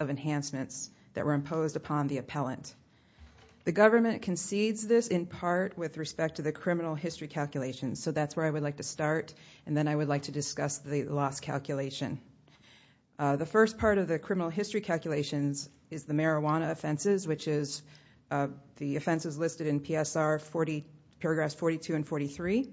of enhancements that were imposed upon the appellant. The government concedes this in part with respect to the criminal history calculations. So that's where I would like to start and then I would like to discuss the loss calculation. The first part of the criminal history calculations is the marijuana offenses, which is the offenses listed in PSR 40, paragraphs 42 and 43.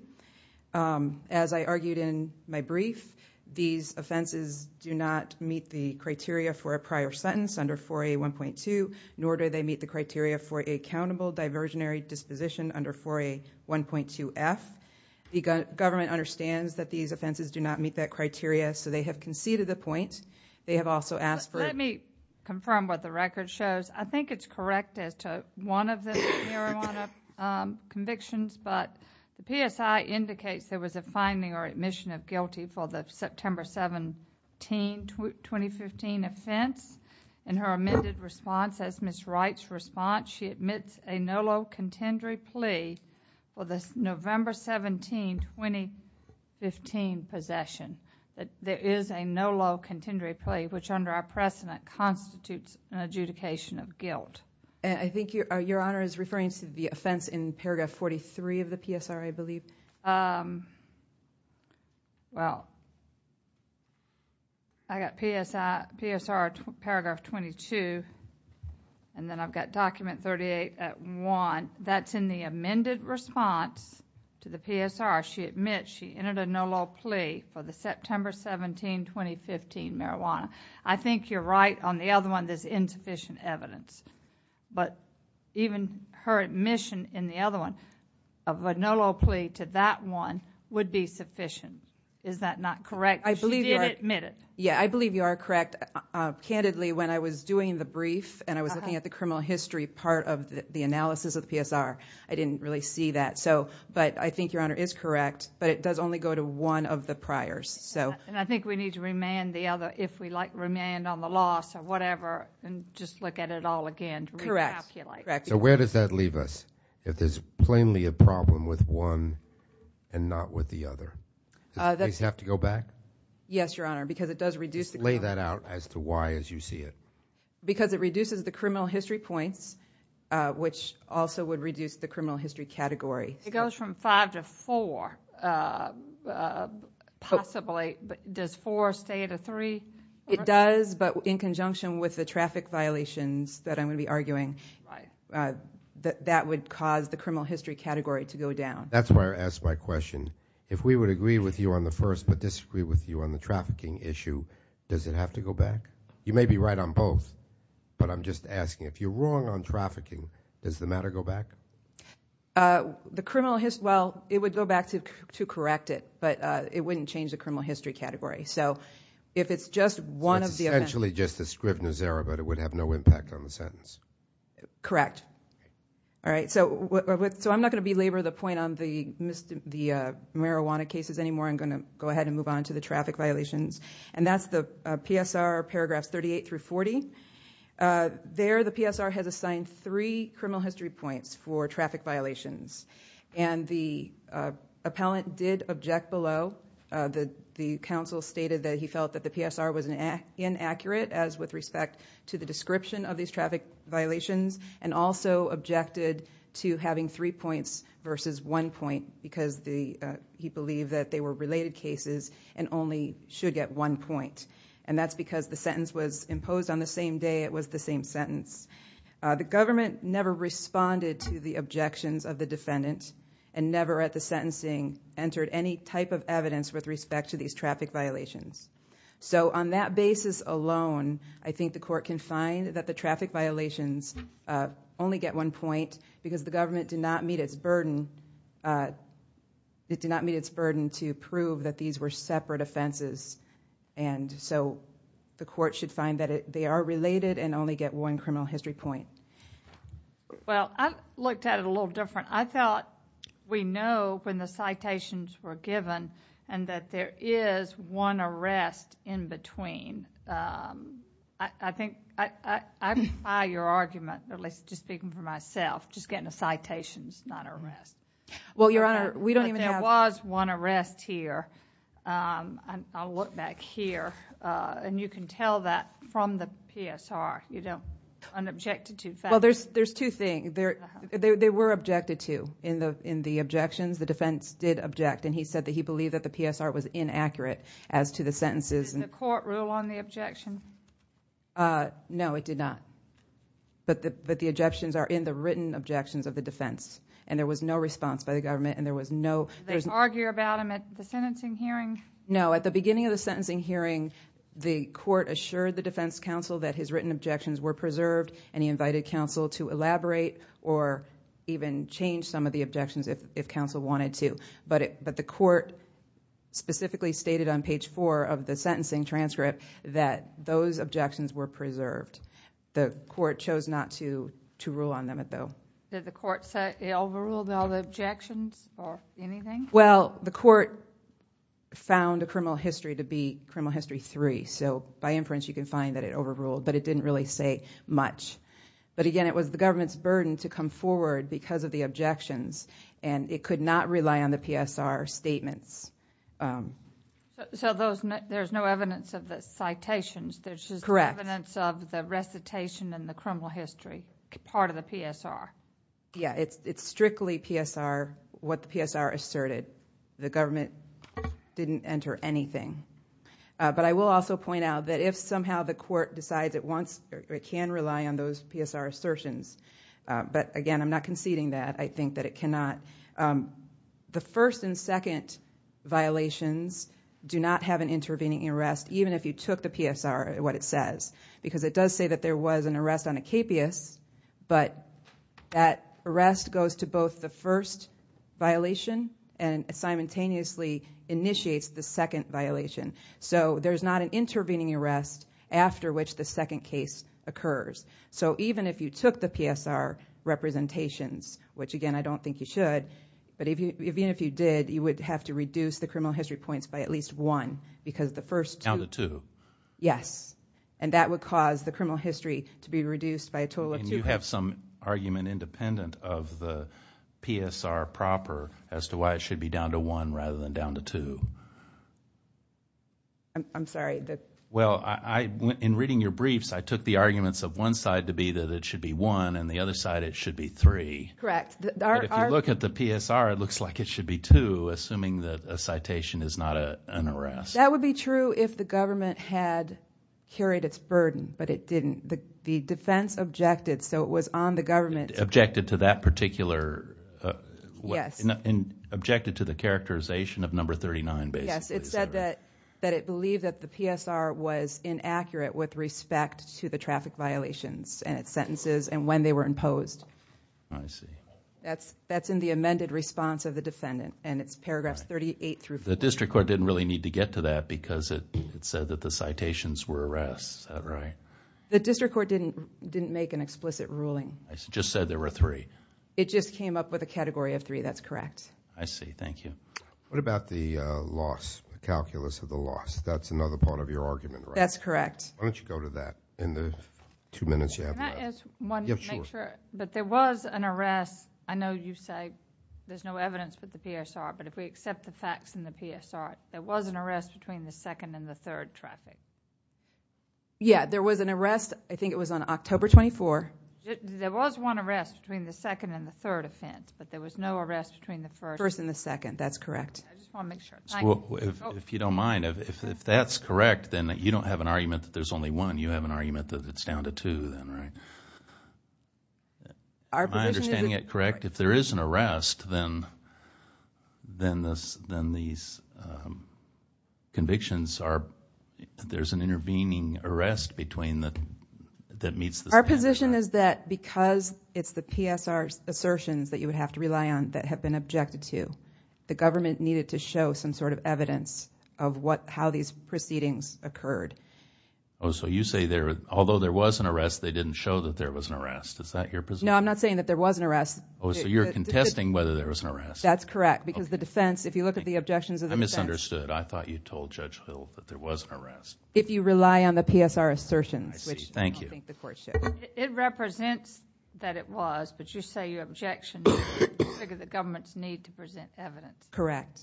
As I argued in my brief, these offenses do not meet the prior sentence under 4A 1.2, nor do they meet the criteria for a countable diversionary disposition under 4A 1.2F. The government understands that these offenses do not meet that criteria, so they have conceded the point. They have also asked for... Let me confirm what the record shows. I think it's correct as to one of the marijuana convictions, but the PSI indicates there was a finding or admission of guilty for the September 17, 2015 offense. In her amended response, as Ms. Wright's response, she admits a no low contendory plea for the November 17, 2015 possession. There is a no low contendory plea, which under our precedent constitutes an adjudication of guilt. I think Your Honor is referring to the offense in paragraph 43 of the PSR, I believe. Well, I've got PSR paragraph 22, and then I've got document 38 at 1. That's in the amended response to the PSR. She admits she entered a no low plea for the September 17, 2015 marijuana. I think you're right on the other one, there's insufficient evidence, but even her admission in the other one of a no low plea to that one would be sufficient. Is that not correct? I believe you are correct. Candidly, when I was doing the brief and I was looking at the criminal history part of the analysis of the PSR, I didn't really see that. I think Your Honor is correct, but it does only go to one of the priors. I think we need to remand the other, if we like, remand on the loss or whatever, and just look at it all again to recalculate. Correct. So where does that leave us, if there's plainly a problem with one and not with the other? Does the case have to go back? Yes, Your Honor, because it does reduce the... Just lay that out as to why, as you see it. Because it reduces the criminal history points, which also would reduce the criminal history category. It goes from five to four, possibly. Does four stay at a three? It does, but in conjunction with the traffic violations that I'm going to be arguing, that would cause the criminal history category to go down. That's why I asked my question. If we would agree with you on the first, but disagree with you on the trafficking issue, does it have to go back? You may be right on both, but I'm just asking. If you're wrong on trafficking, does the matter go back? The criminal history... Well, it would go back to correct it, but it wouldn't change the criminal history category. So if it's just one of the... It's essentially just the Scribner's error, but it would have no impact on the sentence. Correct. All right. So I'm not going to belabor the point on the marijuana cases anymore. I'm going to go ahead and move on to the traffic violations, and that's the PSR paragraphs 38 through 40. There, the PSR has assigned three criminal history points for traffic violations, and the appellant did object below. The counsel stated that he felt that the PSR was inaccurate as with respect to the description of these traffic violations, and also objected to having three points versus one point because he believed that they were related cases and only should get one point. That's because the sentence was responded to the objections of the defendant and never at the sentencing entered any type of evidence with respect to these traffic violations. So on that basis alone, I think the court can find that the traffic violations only get one point because the government did not meet its burden to prove that these were separate offenses, and so the court should find that they are related and only get one criminal history point. Well, I looked at it a little different. I thought we know when the citations were given and that there is one arrest in between. I think I defy your argument, at least just speaking for myself, just getting the citations, not arrest. Well, Your Honor, we don't even have... But there was one arrest here. I'll look back here, and you can tell that from the PSR, an objected to fact. Well, there's two things. They were objected to in the objections. The defense did object, and he said that he believed that the PSR was inaccurate as to the sentences. Did the court rule on the objection? No, it did not, but the objections are in the written objections of the defense, and there was no response by the government, and there was no... Did they argue about them at the sentencing hearing? No. At the beginning of the sentencing hearing, the court assured the defense counsel that his written objections were preserved, and he invited counsel to elaborate or even change some of the objections if counsel wanted to, but the court specifically stated on page four of the sentencing transcript that those objections were preserved. The court chose not to rule on them, though. Did the court overrule all the objections or anything? Well, the court found a criminal history to be criminal history three, so by inference, you can find that it overruled, but it didn't really say much, but again, it was the government's burden to come forward because of the objections, and it could not rely on the PSR statements. So there's no evidence of the citations. There's just evidence of the recitation and the criminal the government didn't enter anything, but I will also point out that if somehow the court decides it wants or it can rely on those PSR assertions, but again, I'm not conceding that. I think that it cannot... The first and second violations do not have an intervening arrest, even if you took the PSR, what it says, because it does say that there was an arrest on a capeus, but that arrest goes to both the first violation and simultaneously initiates the second violation. So there's not an intervening arrest after which the second case occurs. So even if you took the PSR representations, which again, I don't think you should, but even if you did, you would have to reduce the criminal history points by at least one because the first... Counted two. Yes, and that would cause the criminal history to be reduced by a total of two. And you have some argument independent of the PSR proper as to why it should be down to one rather than down to two. I'm sorry. Well, in reading your briefs, I took the arguments of one side to be that it should be one and the other side, it should be three. Correct. If you look at the PSR, it looks like it should be two, assuming that a citation is not an arrest. That would be true if the government had carried its burden, but it didn't. The defense objected, so it was on the government. Objected to that particular... Yes. Objected to the characterization of number 39, basically. Yes, it said that it believed that the PSR was inaccurate with respect to the traffic violations and its sentences and when they were imposed. I see. The district court didn't really need to get to that because it said that the citations were arrests. Is that right? The district court didn't make an explicit ruling. It just said there were three. It just came up with a category of three. That's correct. I see. Thank you. What about the loss, the calculus of the loss? That's another part of your argument, right? That's correct. Why don't you go to that in the two minutes you have left? Can I ask one to make sure? But there was an arrest. I know you say there's no evidence with the PSR, but if we accept the facts in the PSR, there was an arrest between the second and the third traffic. Yeah, there was an arrest. I think it was on October 24th. There was one arrest between the second and the third offense, but there was no arrest between the first... First and the second. That's correct. I just want to make sure. If you don't mind, if that's correct, then you don't have an argument that there's only one. You have an argument that it's down to two then, right? Am I understanding it correct? If there is an arrest, then these convictions are... there's an intervening arrest between the... that meets the standard. Our position is that because it's the PSR assertions that you would have to rely on that have been objected to, the government needed to show some sort of evidence of how these proceedings occurred. Oh, so you say there... although there was an arrest, they didn't show that there was an arrest. Is that your position? No, I'm not saying that there was an arrest. So you're contesting whether there was an arrest? That's correct, because the defense, if you look at the objections of the defense... I misunderstood. I thought you told Judge Hill that there was an arrest. If you rely on the PSR assertions, which I don't think the court should. It represents that it was, but you say you objected to it because the governments need to present evidence. Correct.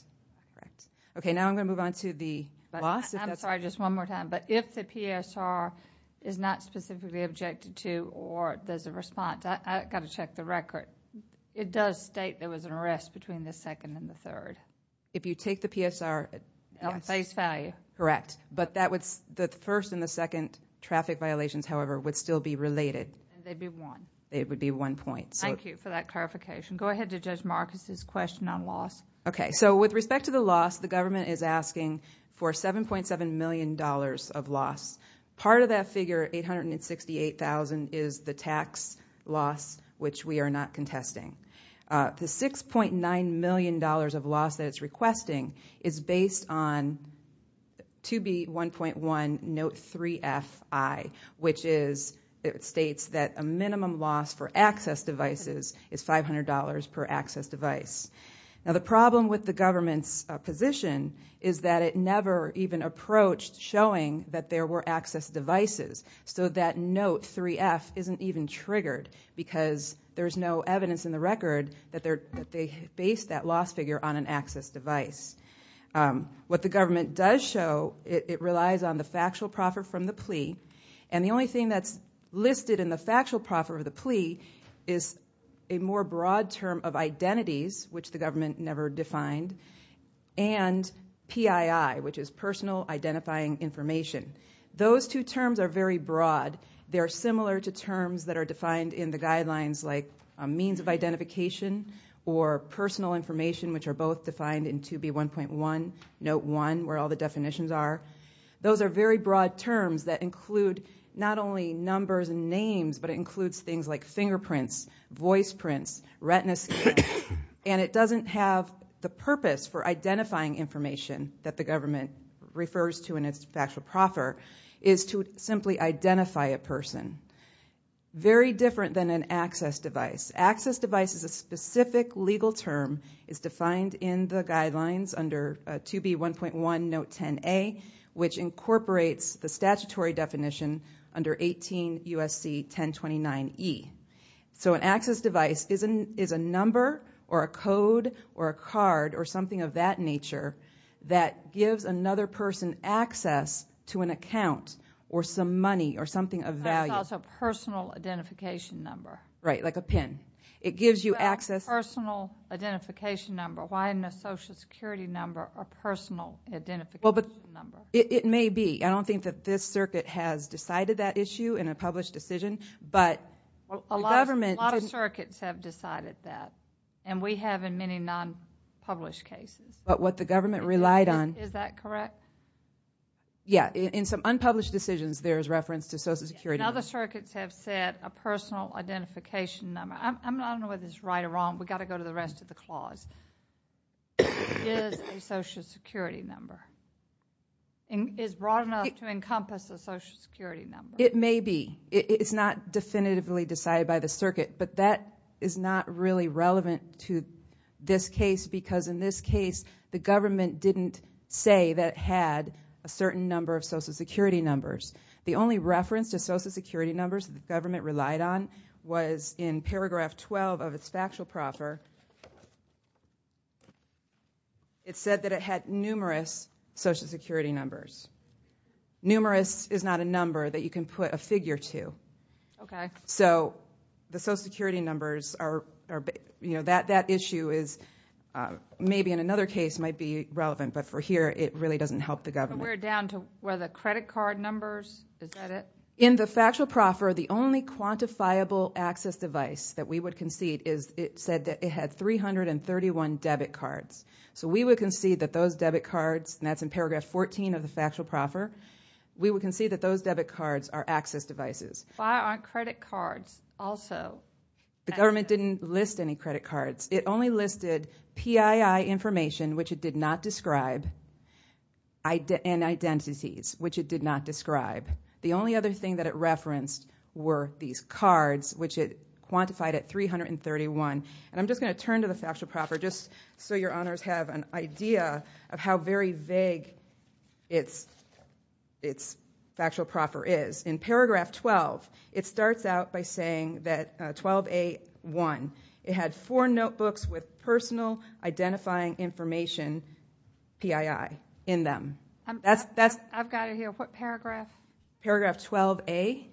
Okay, now I'm going to move on to the loss. I'm sorry, just one more time, but if the PSR is not specifically objected to or there's a response... I've got to check the record. It does state there was an arrest between the second and the third. If you take the PSR... At face value. Correct, but that would... the first and the second traffic violations, however, would still be related. They'd be one. It would be one point. Thank you for that clarification. Go ahead to Judge Marcus's question on loss. Okay, so with respect to the loss, the government is asking for $7.7 million of loss. Part of that figure, $868,000, is the tax loss, which we are not contesting. The $6.9 million of loss that it's requesting is based on 2B1.1 Note 3FI, which states that a minimum loss for access devices is $500 per access device. Now, the problem with the government's position is that it never even approached showing that there were access devices, so that Note 3F isn't even triggered because there's no evidence in the record that they based that loss figure on an access device. What the government does show, it relies on the factual profit from the plea, and the only thing that's listed in the factual profit of the plea is a more broad term of identities, which the government never defined, and PII, which is personal identifying information. Those two terms are very broad. They're similar to terms that are defined in the guidelines like means of identification or personal information, which are both defined in 2B1.1 Note 1, where all the definitions are. Those are very broad terms that include not only numbers and names, but it includes things like fingerprints, voice prints, retina scans, and it doesn't have the purpose for identifying information that the government refers to in its factual proffer is to simply identify a person. Very different than an access device. Access device is a specific legal term. It's defined in the guidelines under 2B1.1 Note 10A, which incorporates the statutory definition under 18 USC 1029E. An access device is a number or a code or a card or something of that nature that gives another person access to an account or some money or something of value. That's also a personal identification number. Right, like a PIN. It gives you access... Personal identification number. Why not social security number or personal identification number? It may be. I don't think that this circuit has decided that issue in a published decision, but the government... A lot of circuits have decided that, and we have in many non-published cases. But what the government relied on... Is that correct? Yeah. In some unpublished decisions, there is reference to social security number. And other circuits have said a personal identification number. I don't know whether it's right or wrong. We got to go to the rest of the clause. Is a social security number. Is broad enough to encompass a social security number. It may be. It's not definitively decided by the circuit. But that is not really relevant to this case. Because in this case, the government didn't say that it had a certain number of social security numbers. The only reference to social security numbers the government relied on was in paragraph 12 of its factual proffer. It said that it had numerous social security numbers. Numerous is not a number that you can put a figure to. Okay. So the social security numbers are... You know, that issue is... Maybe in another case might be relevant. But for here, it really doesn't help the government. We're down to where the credit card numbers. Is that it? In the factual proffer, the only quantifiable access device that we would concede is... It said that it had 331 debit cards. So we would concede that those debit cards... That's in paragraph 14 of the factual proffer. We would concede that those debit cards are access devices. Why aren't credit cards also... The government didn't list any credit cards. It only listed PII information, which it did not describe, and identities, which it did not describe. The only other thing that it referenced were these cards, which it quantified at 331. And I'm just going to turn to the factual proffer, just so your honors have an idea of how very vague its factual proffer is. In paragraph 12, it starts out by saying that 12A1, it had four notebooks with personal identifying information, PII, in them. I've got it here. What paragraph? Paragraph 12A.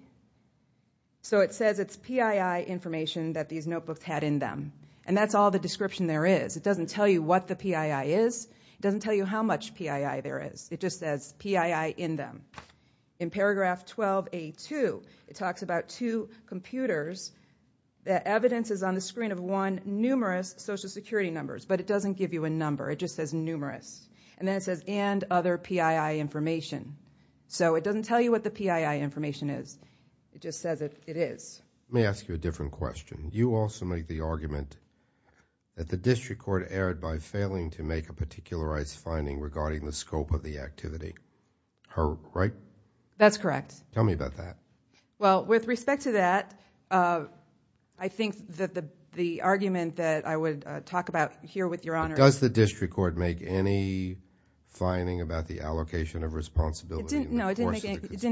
So it says it's PII information that these notebooks had in them. And that's all the description there is. It doesn't tell you what the PII is. It doesn't tell you how much PII there is. It just says PII in them. In paragraph 12A2, it talks about two computers. The evidence is on the screen of one numerous social security numbers, but it doesn't give you a number. It just says numerous. And then it says, and other PII information. So it doesn't tell you what the PII information is. It just says it is. Let me ask you a different question. You also make the argument that the district court erred by failing to make a particularized finding regarding the scope of the activity. Right? That's correct. Tell me about that. Well, with respect to that, I think that the argument that I would talk about here with your Honor is- Does the district court make any finding about the allocation of responsibility? No, it didn't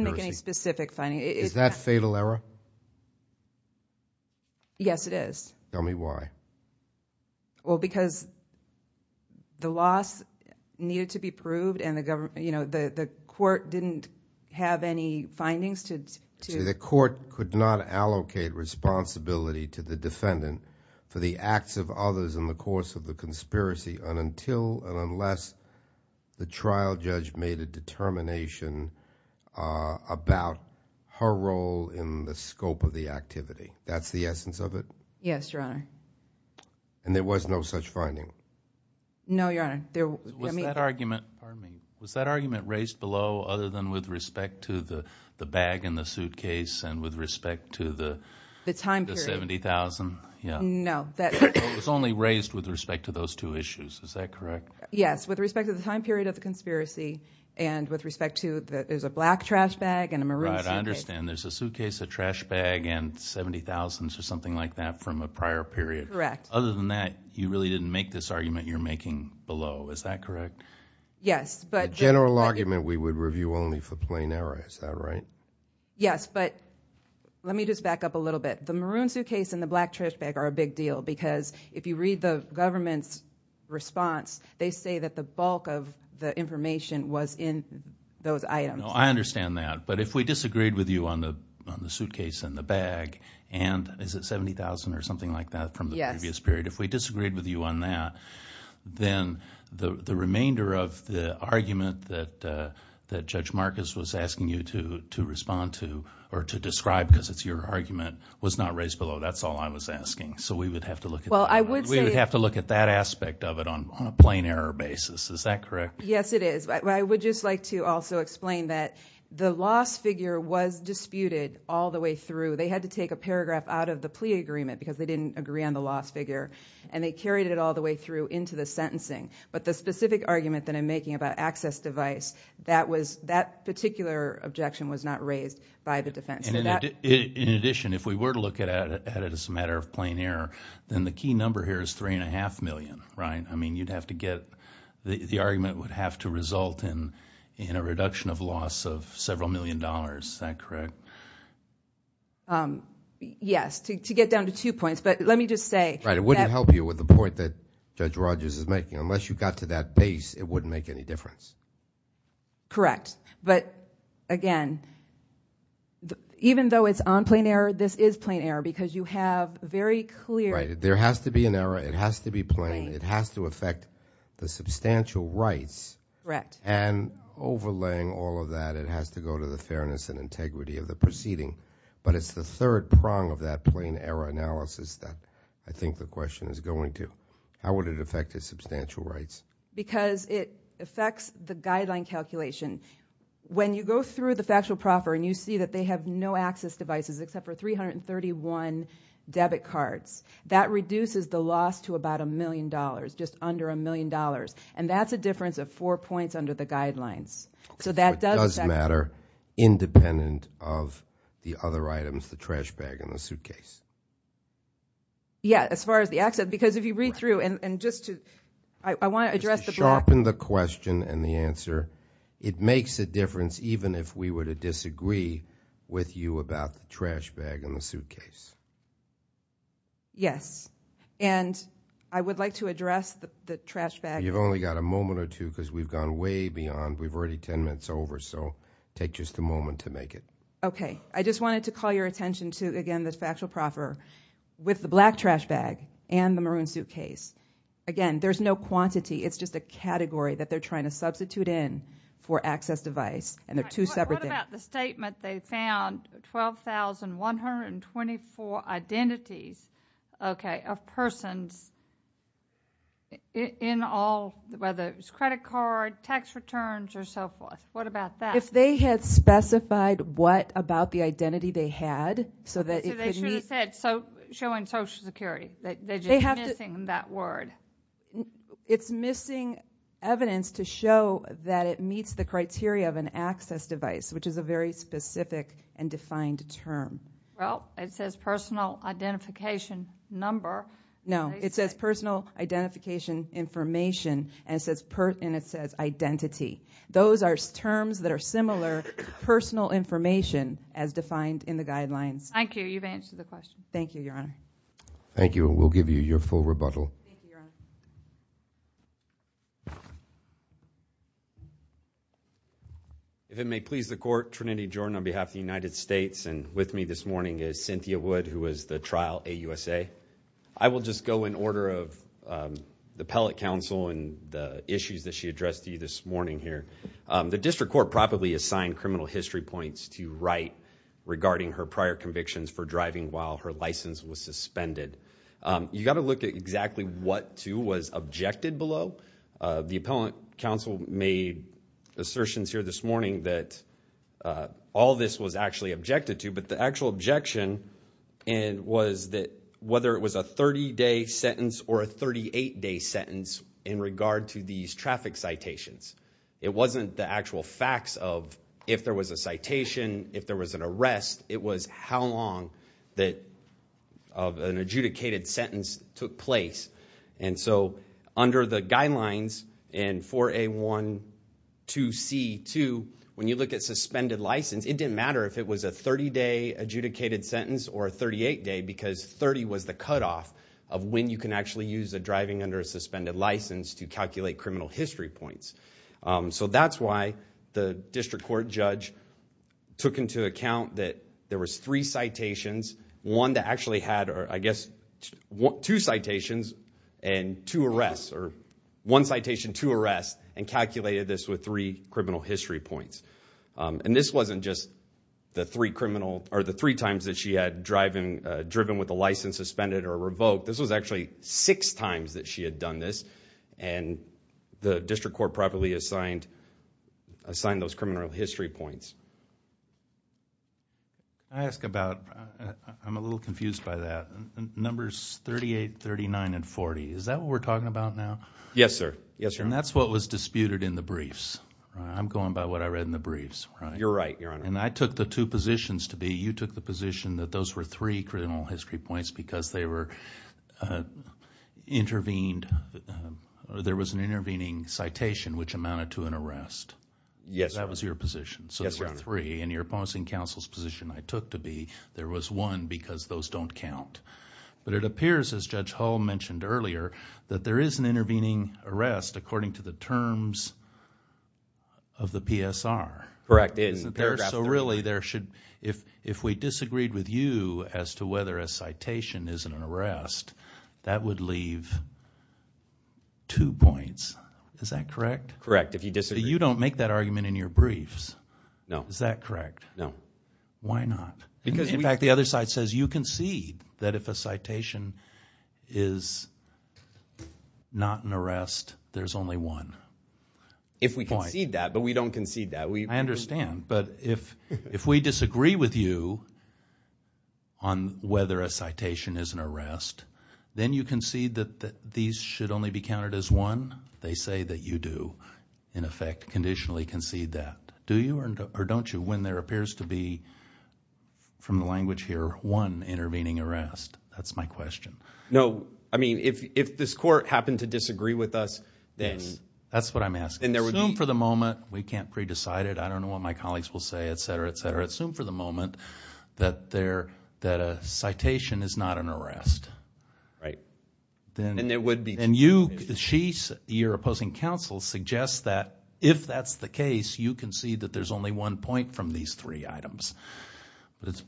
make any specific finding. Is that fatal error? Yes, it is. Tell me why. Well, because the loss needed to be proved and the government, you know, the court didn't have any findings to- So the court could not allocate responsibility to the defendant for the acts of others in the course of the conspiracy and until and unless the trial judge made a determination about her role in the scope of the activity. That's the essence of it? Yes, your Honor. And there was no such finding? No, your Honor. Was that argument raised below other than with respect to the bag and the suitcase and with respect to the- The time period. The $70,000? No. It was only raised with respect to those two issues. Is that correct? Yes. With respect to the time period of the conspiracy and with respect to the- There's a black trash bag and a maroon suitcase. I understand. There's a suitcase, a trash bag and $70,000 or something like that from a prior period. Correct. Other than that, you really didn't make this argument you're making below. Is that correct? Yes, but- General argument, we would review only for plain error. Is that right? Yes, but let me just back up a little bit. The maroon suitcase and the black trash bag are a big deal because if you read the government's response, they say that the bulk of the information was in those items. No, I understand that, but if we disagreed with you on the suitcase and the bag and is it $70,000 or something like that from the previous period? If we disagreed with you on that, then the remainder of the argument that Judge Marcus was asking you to respond to or to describe because it's your argument was not raised below. That's all I was asking. So we would have to look at- Well, I would say- Is that correct? Yes, it is. I would just like to also explain that the loss figure was disputed all the way through. They had to take a paragraph out of the plea agreement because they didn't agree on the loss figure and they carried it all the way through into the sentencing, but the specific argument that I'm making about access device, that particular objection was not raised by the defense. In addition, if we were to look at it as a matter of plain error, then the key number here is $3.5 million, right? You'd have to get- The argument would have to result in a reduction of loss of several million dollars. Is that correct? Yes, to get down to two points, but let me just say- Right, it wouldn't help you with the point that Judge Rogers is making. Unless you got to that base, it wouldn't make any difference. Correct, but again, even though it's on plain error, this is plain error because you have very clear- Right, there has to be an error. It has to be plain. It has to affect the substantial rights. Correct. And overlaying all of that, it has to go to the fairness and integrity of the proceeding, but it's the third prong of that plain error analysis that I think the question is going to. How would it affect his substantial rights? Because it affects the guideline calculation. When you go through the factual proffer and you see that they have no access devices except for 331 debit cards, that reduces the loss to about a million dollars, just under a million dollars, and that's a difference of four points under the guidelines. So that does matter independent of the other items, the trash bag and the suitcase. Yeah, as far as the access, because if you read through, and just to, I want to address the- Sharpen the question and the answer. It makes a difference even if we were to disagree with you about the trash bag and the suitcase. Yes, and I would like to address the trash bag- You've only got a moment or two because we've gone way beyond. We've already 10 minutes over, so take just a moment to make it. Okay. I just wanted to call your attention to, again, the factual proffer with the black trash bag and the maroon suitcase. Again, there's no quantity. It's just a category that they're trying to substitute in for access device, and they're two separate things. What about the statement they found 12,124 identities of persons in all, whether it was credit card, tax returns, or so forth? What about that? If they had specified what about the identity they had, so that it could meet- So they should have said showing social security. They're just missing that word. It's missing evidence to show that it meets the criteria of an access device, which is a very specific and defined term. Well, it says personal identification number. No, it says personal identification information, and it says identity. Those are terms that are similar personal information as defined in the guidelines. Thank you. You've answered the question. Thank you, Your Honor. Thank you, and we'll give you your full rebuttal. If it may please the court, Trinity Jordan on behalf of the United States, and with me this morning is Cynthia Wood, who was the trial AUSA. I will just go in order of the Pellet Council and the issues that she addressed to you this morning here. The district court probably assigned criminal history points to Wright regarding her prior convictions for driving while her license was suspended. You got to look at exactly what, too, was objected below. The Appellant Council made assertions here this morning that all this was actually objected to, but the actual objection was that whether it was a 30-day sentence or a 38-day sentence in regard to these traffic citations. It wasn't the actual facts of if there was a citation, if there was an arrest. It was how long of an adjudicated sentence took place. And so under the guidelines in 4A1-2C2, when you look at suspended license, it didn't matter if it was a 30-day adjudicated sentence or a 38-day because 30 was the cutoff of when you can actually use the driving under a suspended license to calculate criminal history points. So that's why the district court judge took into account that there was three citations, one that actually had, I guess, two citations and two arrests, or one citation, two arrests, and calculated this with three criminal history points. And this wasn't just the three times that she had driven with a license suspended or revoked. This was actually six times that she had done this. And the district court properly assigned those criminal history points. I ask about, I'm a little confused by that, numbers 38, 39, and 40. Is that what we're talking about now? Yes, sir. Yes, sir. And that's what was disputed in the briefs. I'm going by what I read in the briefs, right? You're right, Your Honor. And I took the two positions to be, you took the position that those were three criminal history points because there was an intervening citation which amounted to an arrest. Yes, Your Honor. That was your position. Yes, Your Honor. So there were three, and your opposing counsel's position I took to be there was one because those don't count. But it appears, as Judge Hull mentioned earlier, that there is an intervening arrest according to the terms of the PSR. Correct, in paragraph three. So really there should, if we disagreed with you as to whether a citation is an arrest, that would leave two points. Is that correct? Correct, if you disagree. You don't make that argument in your briefs. No. Is that correct? No. Why not? In fact, the other side says you concede that if a citation is not an arrest, there's only one. If we concede that, but we don't concede that. I understand. But if we disagree with you on whether a citation is an arrest, then you concede that these should only be counted as one? They say that you do, in effect, conditionally concede that. Do you or don't you when there appears to be, from the language here, one intervening arrest? That's my question. No. I mean, if this court happened to disagree with us, then... That's what I'm asking. Assume for the moment, we can't pre-decide it. I don't know what my colleagues will say, et cetera, et cetera. Assume for the moment that a citation is not an arrest. Right. And there would be two. And you, she, your opposing counsel, suggests that if that's the case, you concede that there's only one point from these three items.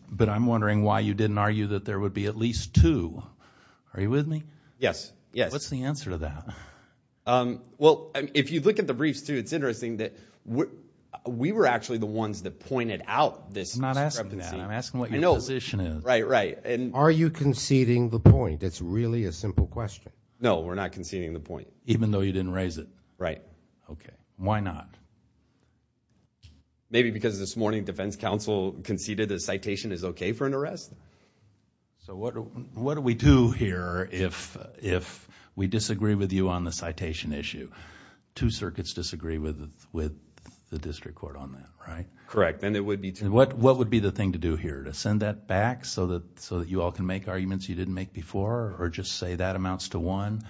But I'm wondering why you didn't argue that there would be at least two. Are you with me? Yes, yes. What's the answer to that? Well, if you look at the briefs too, it's interesting that we were actually the ones that pointed out this discrepancy. I'm not asking that. I'm asking what your position is. Right, right. Are you conceding the point? That's really a simple question. No, we're not conceding the point. Even though you didn't raise it? Right. Okay. Why not? Maybe because this morning defense counsel conceded a citation is okay for an arrest? So what do we do here if we disagree with you on the citation issue? Two circuits disagree with the district court on that, right? Correct. Then it would be two. What would be the thing to do here? To send that back so that you all can make arguments you didn't make before? Or just say that amounts to one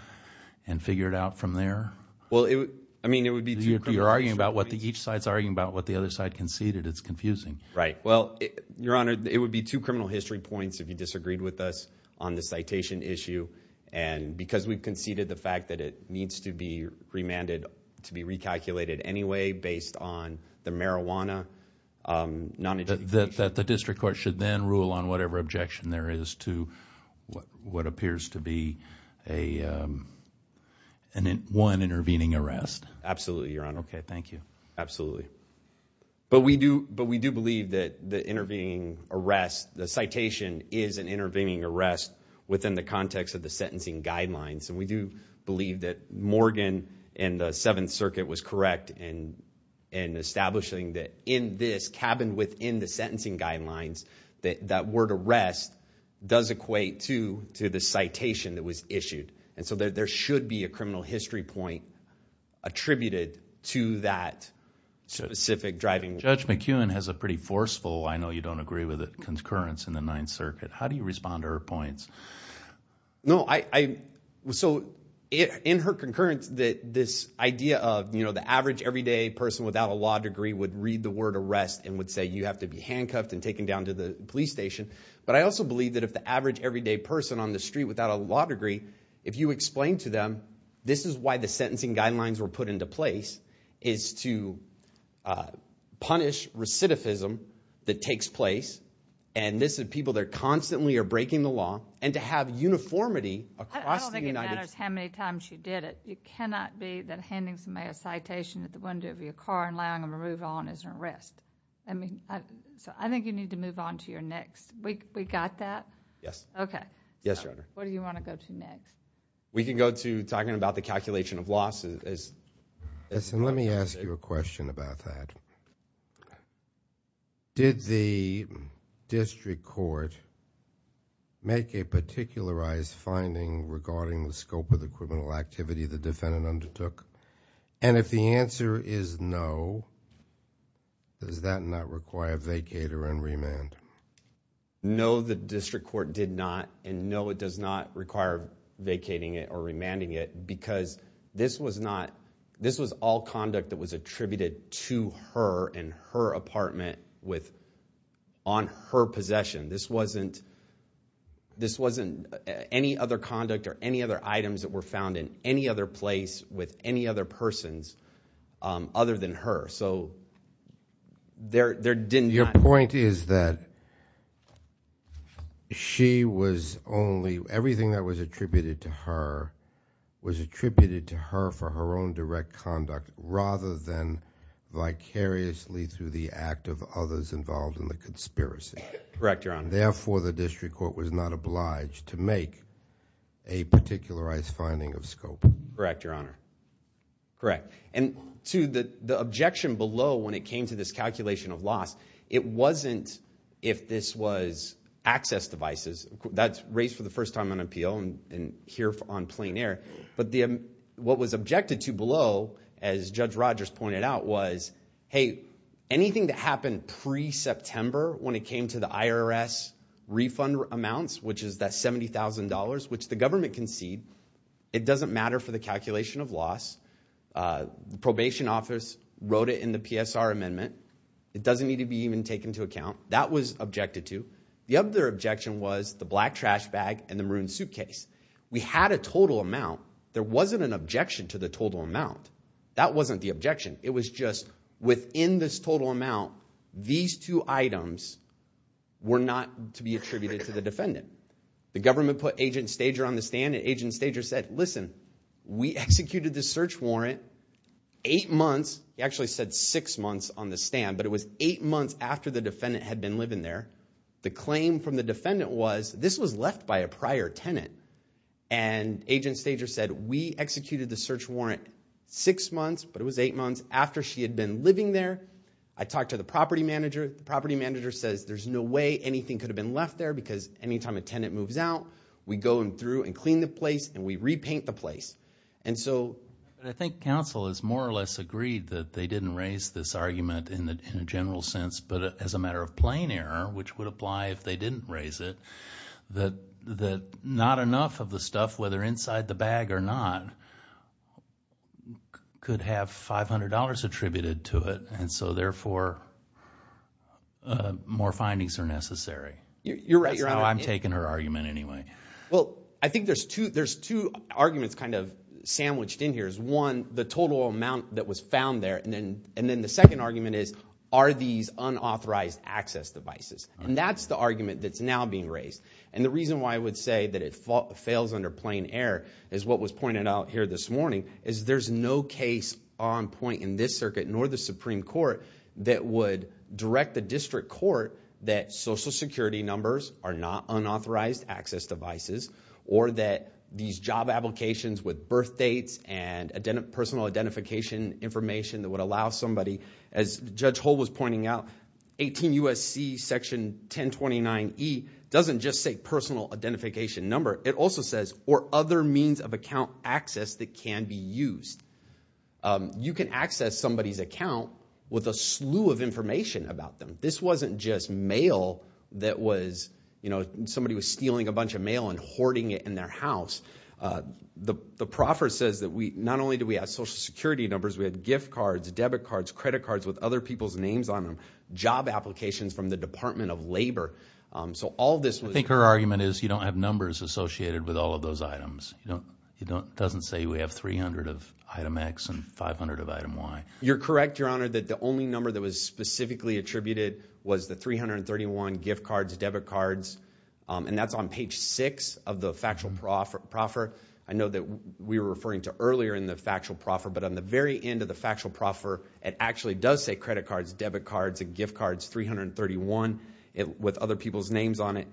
and figure it out from there? Well, I mean, it would be two criminal histories. You're arguing about what the, each side's arguing about what the other side conceded. It's confusing. Right. Your Honor, it would be two criminal history points if you disagreed with us on the citation issue and because we've conceded the fact that it needs to be remanded to be recalculated anyway based on the marijuana. That the district court should then rule on whatever objection there is to what appears to be one intervening arrest? Absolutely, Your Honor. Okay, thank you. Absolutely. But we do believe that the intervening arrest, the citation is an intervening arrest within the context of the sentencing guidelines. And we do believe that Morgan and the Seventh Circuit was correct in establishing that in this cabin within the sentencing guidelines that that word arrest does equate to the citation that was issued. And so there should be a criminal history point attributed to that specific driving. Judge McEwen has a pretty forceful, I know you don't agree with it, concurrence in the Ninth Circuit. How do you respond to her points? No, I, so in her concurrence that this idea of, you know, the average everyday person without a law degree would read the word arrest and would say you have to be handcuffed and taken down to the police station. But I also believe that if the average everyday person on the street without a law degree if you explain to them this is why the sentencing guidelines were put into place is to punish recidivism that takes place. And this is people that constantly are breaking the law and to have uniformity across the United States. I don't think it matters how many times you did it. It cannot be that handing somebody a citation at the window of your car and allowing them to move on is an arrest. I mean, so I think you need to move on to your next, we got that? Yes. Okay. Yes, Your Honor. What do you want to go to next? We can go to talking about the calculation of loss. Yes, and let me ask you a question about that. Did the district court make a particularized finding regarding the scope of the criminal activity the defendant undertook? And if the answer is no, does that not require vacator and remand? No, the district court did not. And no, it does not require vacating it or remanding it because this was not, this was all conduct that was attributed to her and her apartment with, on her possession. This wasn't, this wasn't any other conduct or any other items that were found in any other place with any other persons other than her. So there, there didn't. Your point is that she was only, everything that was attributed to her was attributed to her for her own direct conduct rather than vicariously through the act of others involved in the conspiracy. Correct, Your Honor. Therefore, the district court was not obliged to make a particularized finding of scope. Correct, Your Honor. Correct. And to the objection below when it came to this calculation of loss, it wasn't if this was access devices. That's raised for the first time on appeal and here on plain air. But what was objected to below, as Judge Rogers pointed out, was, hey, anything that happened pre-September when it came to the IRS refund amounts, which is that $70,000, which the government conceded, it doesn't matter for the calculation of loss. The probation office wrote it in the PSR amendment. It doesn't need to be even taken into account. That was objected to. The other objection was the black trash bag and the maroon suitcase. We had a total amount. There wasn't an objection to the total amount. That wasn't the objection. It was just within this total amount, these two items were not to be attributed to the defendant. The government put Agent Stager on the stand and Agent Stager said, listen, we executed the search warrant eight months, he actually said six months on the stand, but it was eight months after the defendant had been living there. The claim from the defendant was, this was left by a prior tenant. And Agent Stager said, we executed the search warrant six months, but it was eight months after she had been living there. I talked to the property manager. The property manager says, there's no way anything could have been left there because any time a tenant moves out, we go in through and clean the place and we repaint the place. And so I think counsel is more or less agreed that they didn't raise this argument in a general sense, but as a matter of plain error, which would apply if they didn't raise it, that not enough of the stuff, whether inside the bag or not, could have $500 attributed to it. And so therefore, more findings are necessary. You're right. You're right. I'm taking her argument anyway. Well, I think there's two arguments kind of sandwiched in here is, one, the total amount that was found there, and then the second argument is, are these unauthorized access devices? And that's the argument that's now being raised. And the reason why I would say that it fails under plain error is what was pointed out here this morning, is there's no case on point in this circuit, nor the Supreme Court, that would direct the district court that Social Security numbers are not unauthorized access devices, or that these job applications with birthdates and personal identification information that would allow somebody, as Judge Hull was pointing out, 18 U.S.C. Section 1029E doesn't just say personal identification number. It also says, or other means of account access that can be used. You can access somebody's account with a slew of information about them. This wasn't just mail that was, you know, somebody was stealing a bunch of mail and hoarding it in their house. The proffer says that we, not only do we have Social Security numbers, we had gift cards, debit cards, credit cards with other people's names on them, job applications from the Department of Labor. So all this was- I think her argument is you don't have numbers associated with all of those items. It doesn't say we have 300 of item X and 500 of item Y. You're correct, Your Honor, that the only number that was specifically attributed was the 331 gift cards, debit cards, and that's on page 6 of the factual proffer. I know that we were referring to earlier in the factual proffer, but on the very end of the factual proffer, it actually does say credit cards, debit cards, and gift cards 331 with other people's names on it.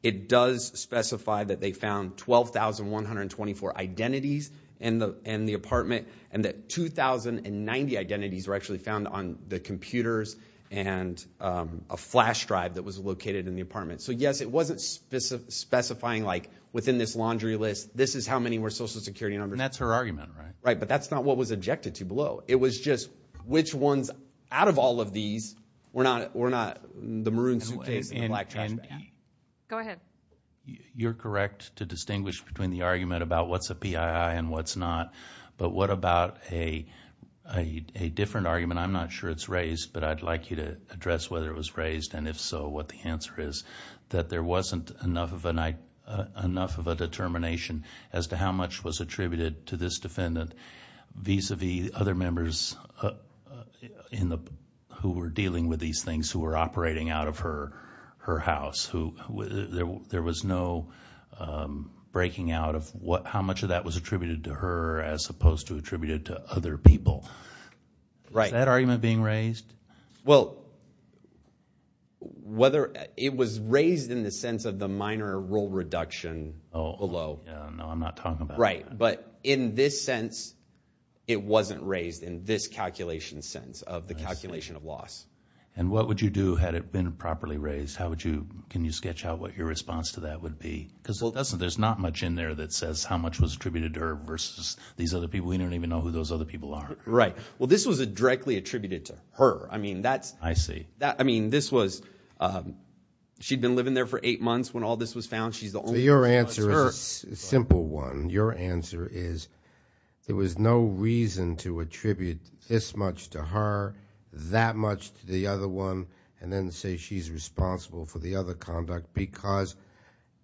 It does specify that they found 12,124 identities in the apartment and that 2,090 identities were actually found on the computers and a flash drive that was located in the apartment. So yes, it wasn't specifying like within this laundry list, this is how many were Social Security numbers. That's her argument, right? Right, but that's not what was objected to below. It was just which ones out of all of these were not the maroon suitcase and the black trash bag. Go ahead. You're correct to distinguish between the argument about what's a PII and what's not, but what about a different argument? I'm not sure it's raised, but I'd like you to address whether it was raised and if so, what the answer is, that there wasn't enough of a determination as to how much was attributed to this defendant vis-a-vis other members who were dealing with these things who were operating out of her house. There was no breaking out of how much of that was attributed to her as opposed to attributed to other people. Is that argument being raised? Well, it was raised in the sense of the minor role reduction below. No, I'm not talking about that. But in this sense, it wasn't raised in this calculation sense of the calculation of loss. And what would you do had it been properly raised? Can you sketch out what your response to that would be? Because there's not much in there that says how much was attributed to her versus these other people. We don't even know who those other people are. Right. Well, this was directly attributed to her. I mean, this was she'd been living there for eight months when all this was found. She's the only one. Your answer is a simple one. Your answer is there was no reason to attribute this much to her, that much to the other one, and then say she's responsible for the other conduct because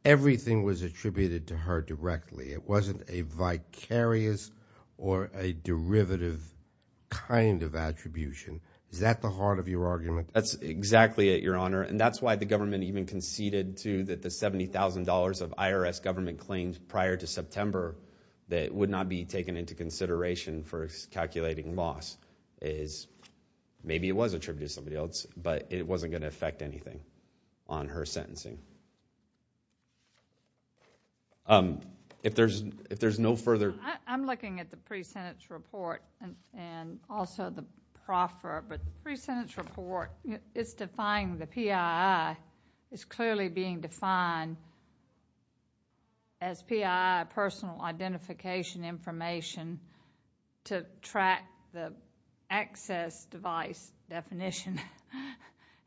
everything was attributed to her directly. It wasn't a vicarious or a derivative kind of attribution. Is that the heart of your argument? That's exactly it, Your Honor. And that's why the government even conceded to the $70,000 of IRS government claims prior to September that would not be taken into consideration for calculating loss is maybe it was attributed to somebody else, but it wasn't going to affect anything on her sentencing. If there's no further... I'm looking at the pre-sentence report and also the proffer, but the pre-sentence report is defining the PII. It's clearly being defined as PII, personal identification information, to track the access device definition,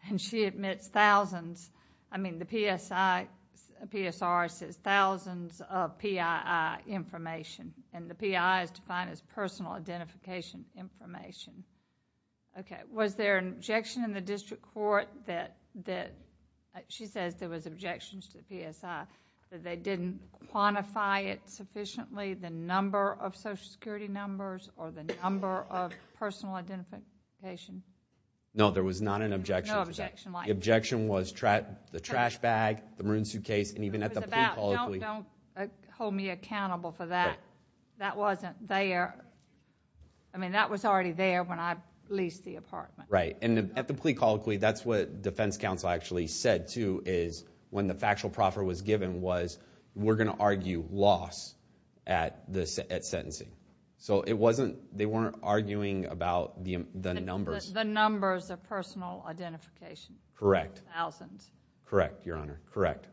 and she admits thousands. I mean, the PSR says thousands of PII information, and the PII is defined as personal identification information. Okay. Was there an objection in the district court that, like she says, there was objections to the PSI, but they didn't quantify it sufficiently, the number of Social Security numbers or the number of personal identification? No, there was not an objection to that. No objection like that? The objection was the trash bag, the maroon suitcase, and even at the police... Don't hold me accountable for that. That wasn't there. I mean, that was already there when I leased the apartment. Right. And at the plea colloquy, that's what defense counsel actually said, too, is when the factual proffer was given was, we're going to argue loss at sentencing. So it wasn't... they weren't arguing about the numbers. The numbers of personal identification. Correct. Thousands. Correct, Your Honor. Correct.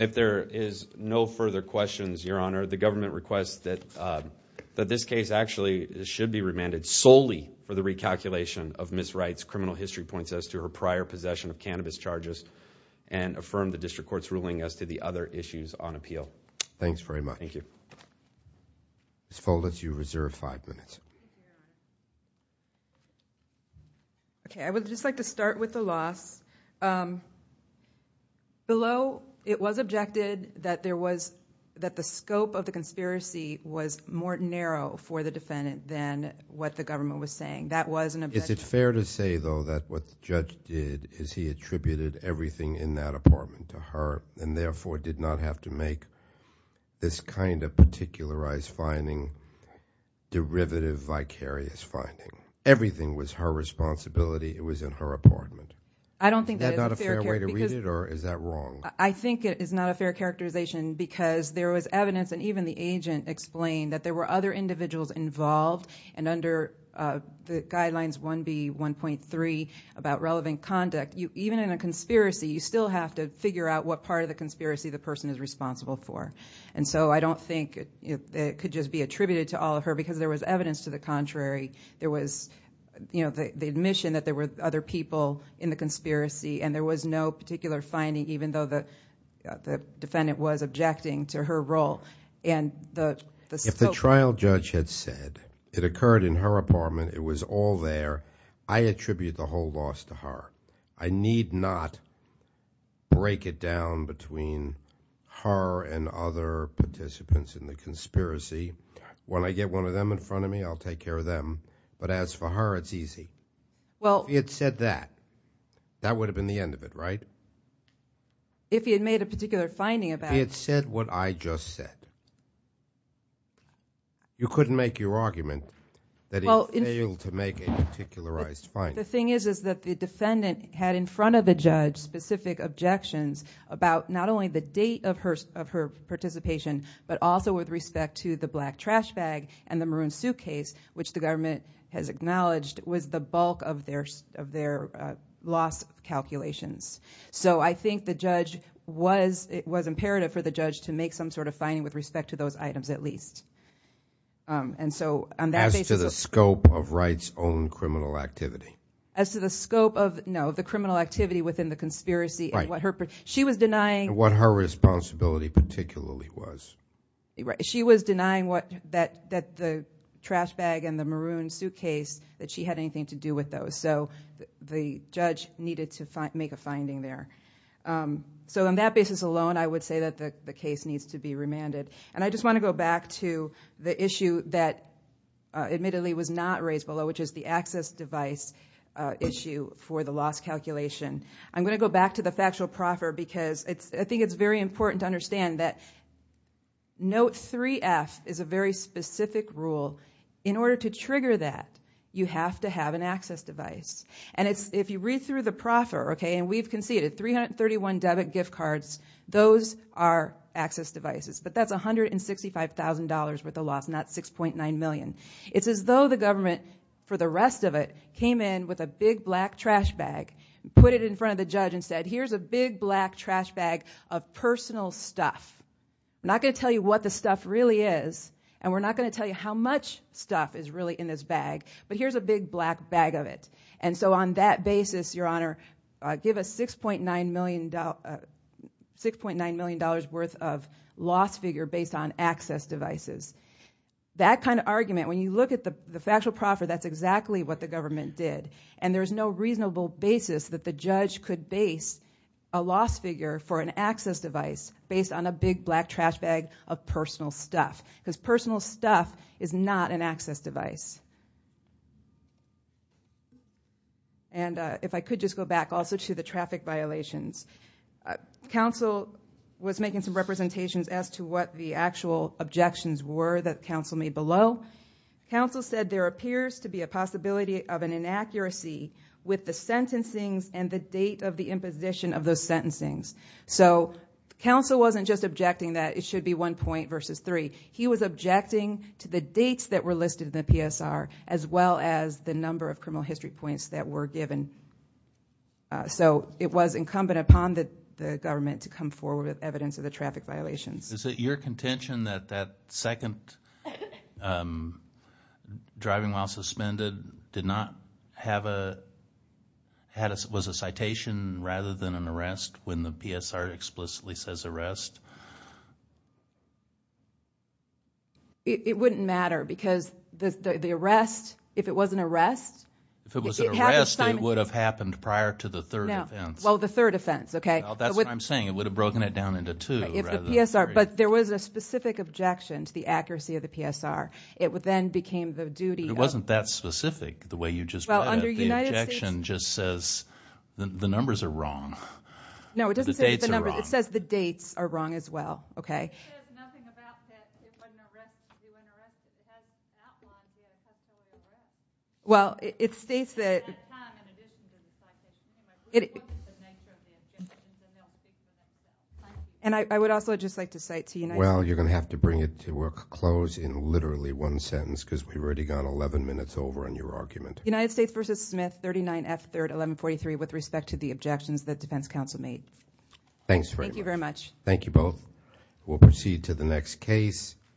If there is no further questions, Your Honor, the government requests that this case actually should be remanded solely for the recalculation of Ms. Wright's criminal history points as to her prior possession of cannabis charges and affirm the district court's ruling as to the other issues on appeal. Thanks very much. Thank you. Ms. Foldis, you reserve five minutes. Okay, I would just like to start with the loss. Below, it was objected that there was... that the scope of the conspiracy was more narrow for the defendant than what the government was saying. That was an objection. Is it fair to say, though, that what the judge did is he attributed everything in that apartment to her and therefore did not have to make this kind of particularized finding derivative vicarious finding? Everything was her responsibility. It was in her apartment. I don't think that is a fair... Is that not a fair way to read it or is that wrong? I think it is not a fair characterization because there was evidence and even the agent explained that there were other individuals involved and under the Guidelines 1B.1.3 about relevant conduct, even in a conspiracy, you still have to figure out what part of the conspiracy the person is responsible for. I don't think it could just be attributed to all of her because there was evidence to the contrary. There was the admission that there were other people in the conspiracy and there was no particular finding even though the defendant was objecting to her role. If the trial judge had said it occurred in her apartment, it was all there, I attribute the whole loss to her. I need not break it down between her and other participants in the conspiracy. When I get one of them in front of me, I'll take care of them. But as for her, it's easy. Well... If he had said that, that would have been the end of it, right? If he had made a particular finding about... He had said what I just said. You couldn't make your argument that he failed to make a particularized finding. The thing is that the defendant had in front of the judge specific objections about not only the date of her participation, but also with respect to the black trash bag and the maroon suitcase, which the government has acknowledged was the bulk of their loss calculations. I think the judge was... It was imperative for the judge to make some sort of finding with respect to those items at least. On that basis... As to the scope of Wright's own criminal activity. As to the scope of... No, the criminal activity within the conspiracy... Right. She was denying... What her responsibility particularly was. She was denying that the trash bag and the maroon suitcase, that she had anything to do with those. So the judge needed to make a finding there. On that basis alone, I would say that the case needs to be remanded. I just want to go back to the issue that admittedly was not raised below, which is the access device issue for the loss calculation. I'm going to go back to the factual proffer, because I think it's very important to understand that Note 3F is a very specific rule. In order to trigger that, you have to have an access device. If you read through the proffer, and we've conceded 331 debit gift cards, those are access devices. But that's $165,000 worth of loss, not $6.9 million. It's as though the government, for the rest of it, came in with a big black trash bag, put it in front of the judge, and said, here's a big black trash bag of personal stuff. I'm not going to tell you what the stuff really is, and we're not going to tell you how much stuff is really in this bag, but here's a big black bag of it. So on that basis, Your Honor, give us $6.9 million worth of loss figure based on access devices. That kind of argument, when you look at the factual proffer, that's exactly what the government did. And there's no reasonable basis that the judge could base a loss figure for an access device based on a big black trash bag of personal stuff. Because personal stuff is not an access device. And if I could just go back also to the traffic violations. Counsel was making some representations as to what the actual objections were that counsel made below. Counsel said there appears to be a possibility of an inaccuracy with the sentencings and the date of the imposition of those sentencings. So counsel wasn't just objecting that it should be one point versus three. He was objecting to the dates that were listed in the PSR, as well as the number of criminal history points that were given. So it was incumbent upon the government to come forward with evidence of the traffic violations. Is it your contention that that second driving while suspended did not have a, had a, was a citation rather than an arrest when the PSR explicitly says arrest? It wouldn't matter because the arrest, if it was an arrest. If it was an arrest, it would have happened prior to the third offense. Well, the third offense, okay. That's what I'm saying. It would have broken it down into two. But there was a specific objection to the accuracy of the PSR. It would then became the duty. It wasn't that specific. The way you just put it. The objection just says the numbers are wrong. No, it doesn't say the numbers. It says the dates are wrong as well. Okay. It says nothing about that if an arrest, if it was an arrest, if it was not an arrest. Well, it states that. And I would also just like to cite to you. Well, you're going to have to bring it to a close in literally one sentence because we've already gone 11 minutes over on your argument. United States versus Smith, 39 F 3rd, 1143, with respect to the objections that defense counsel made. Thanks very much. Thank you very much. Thank you both. We'll proceed to the next case.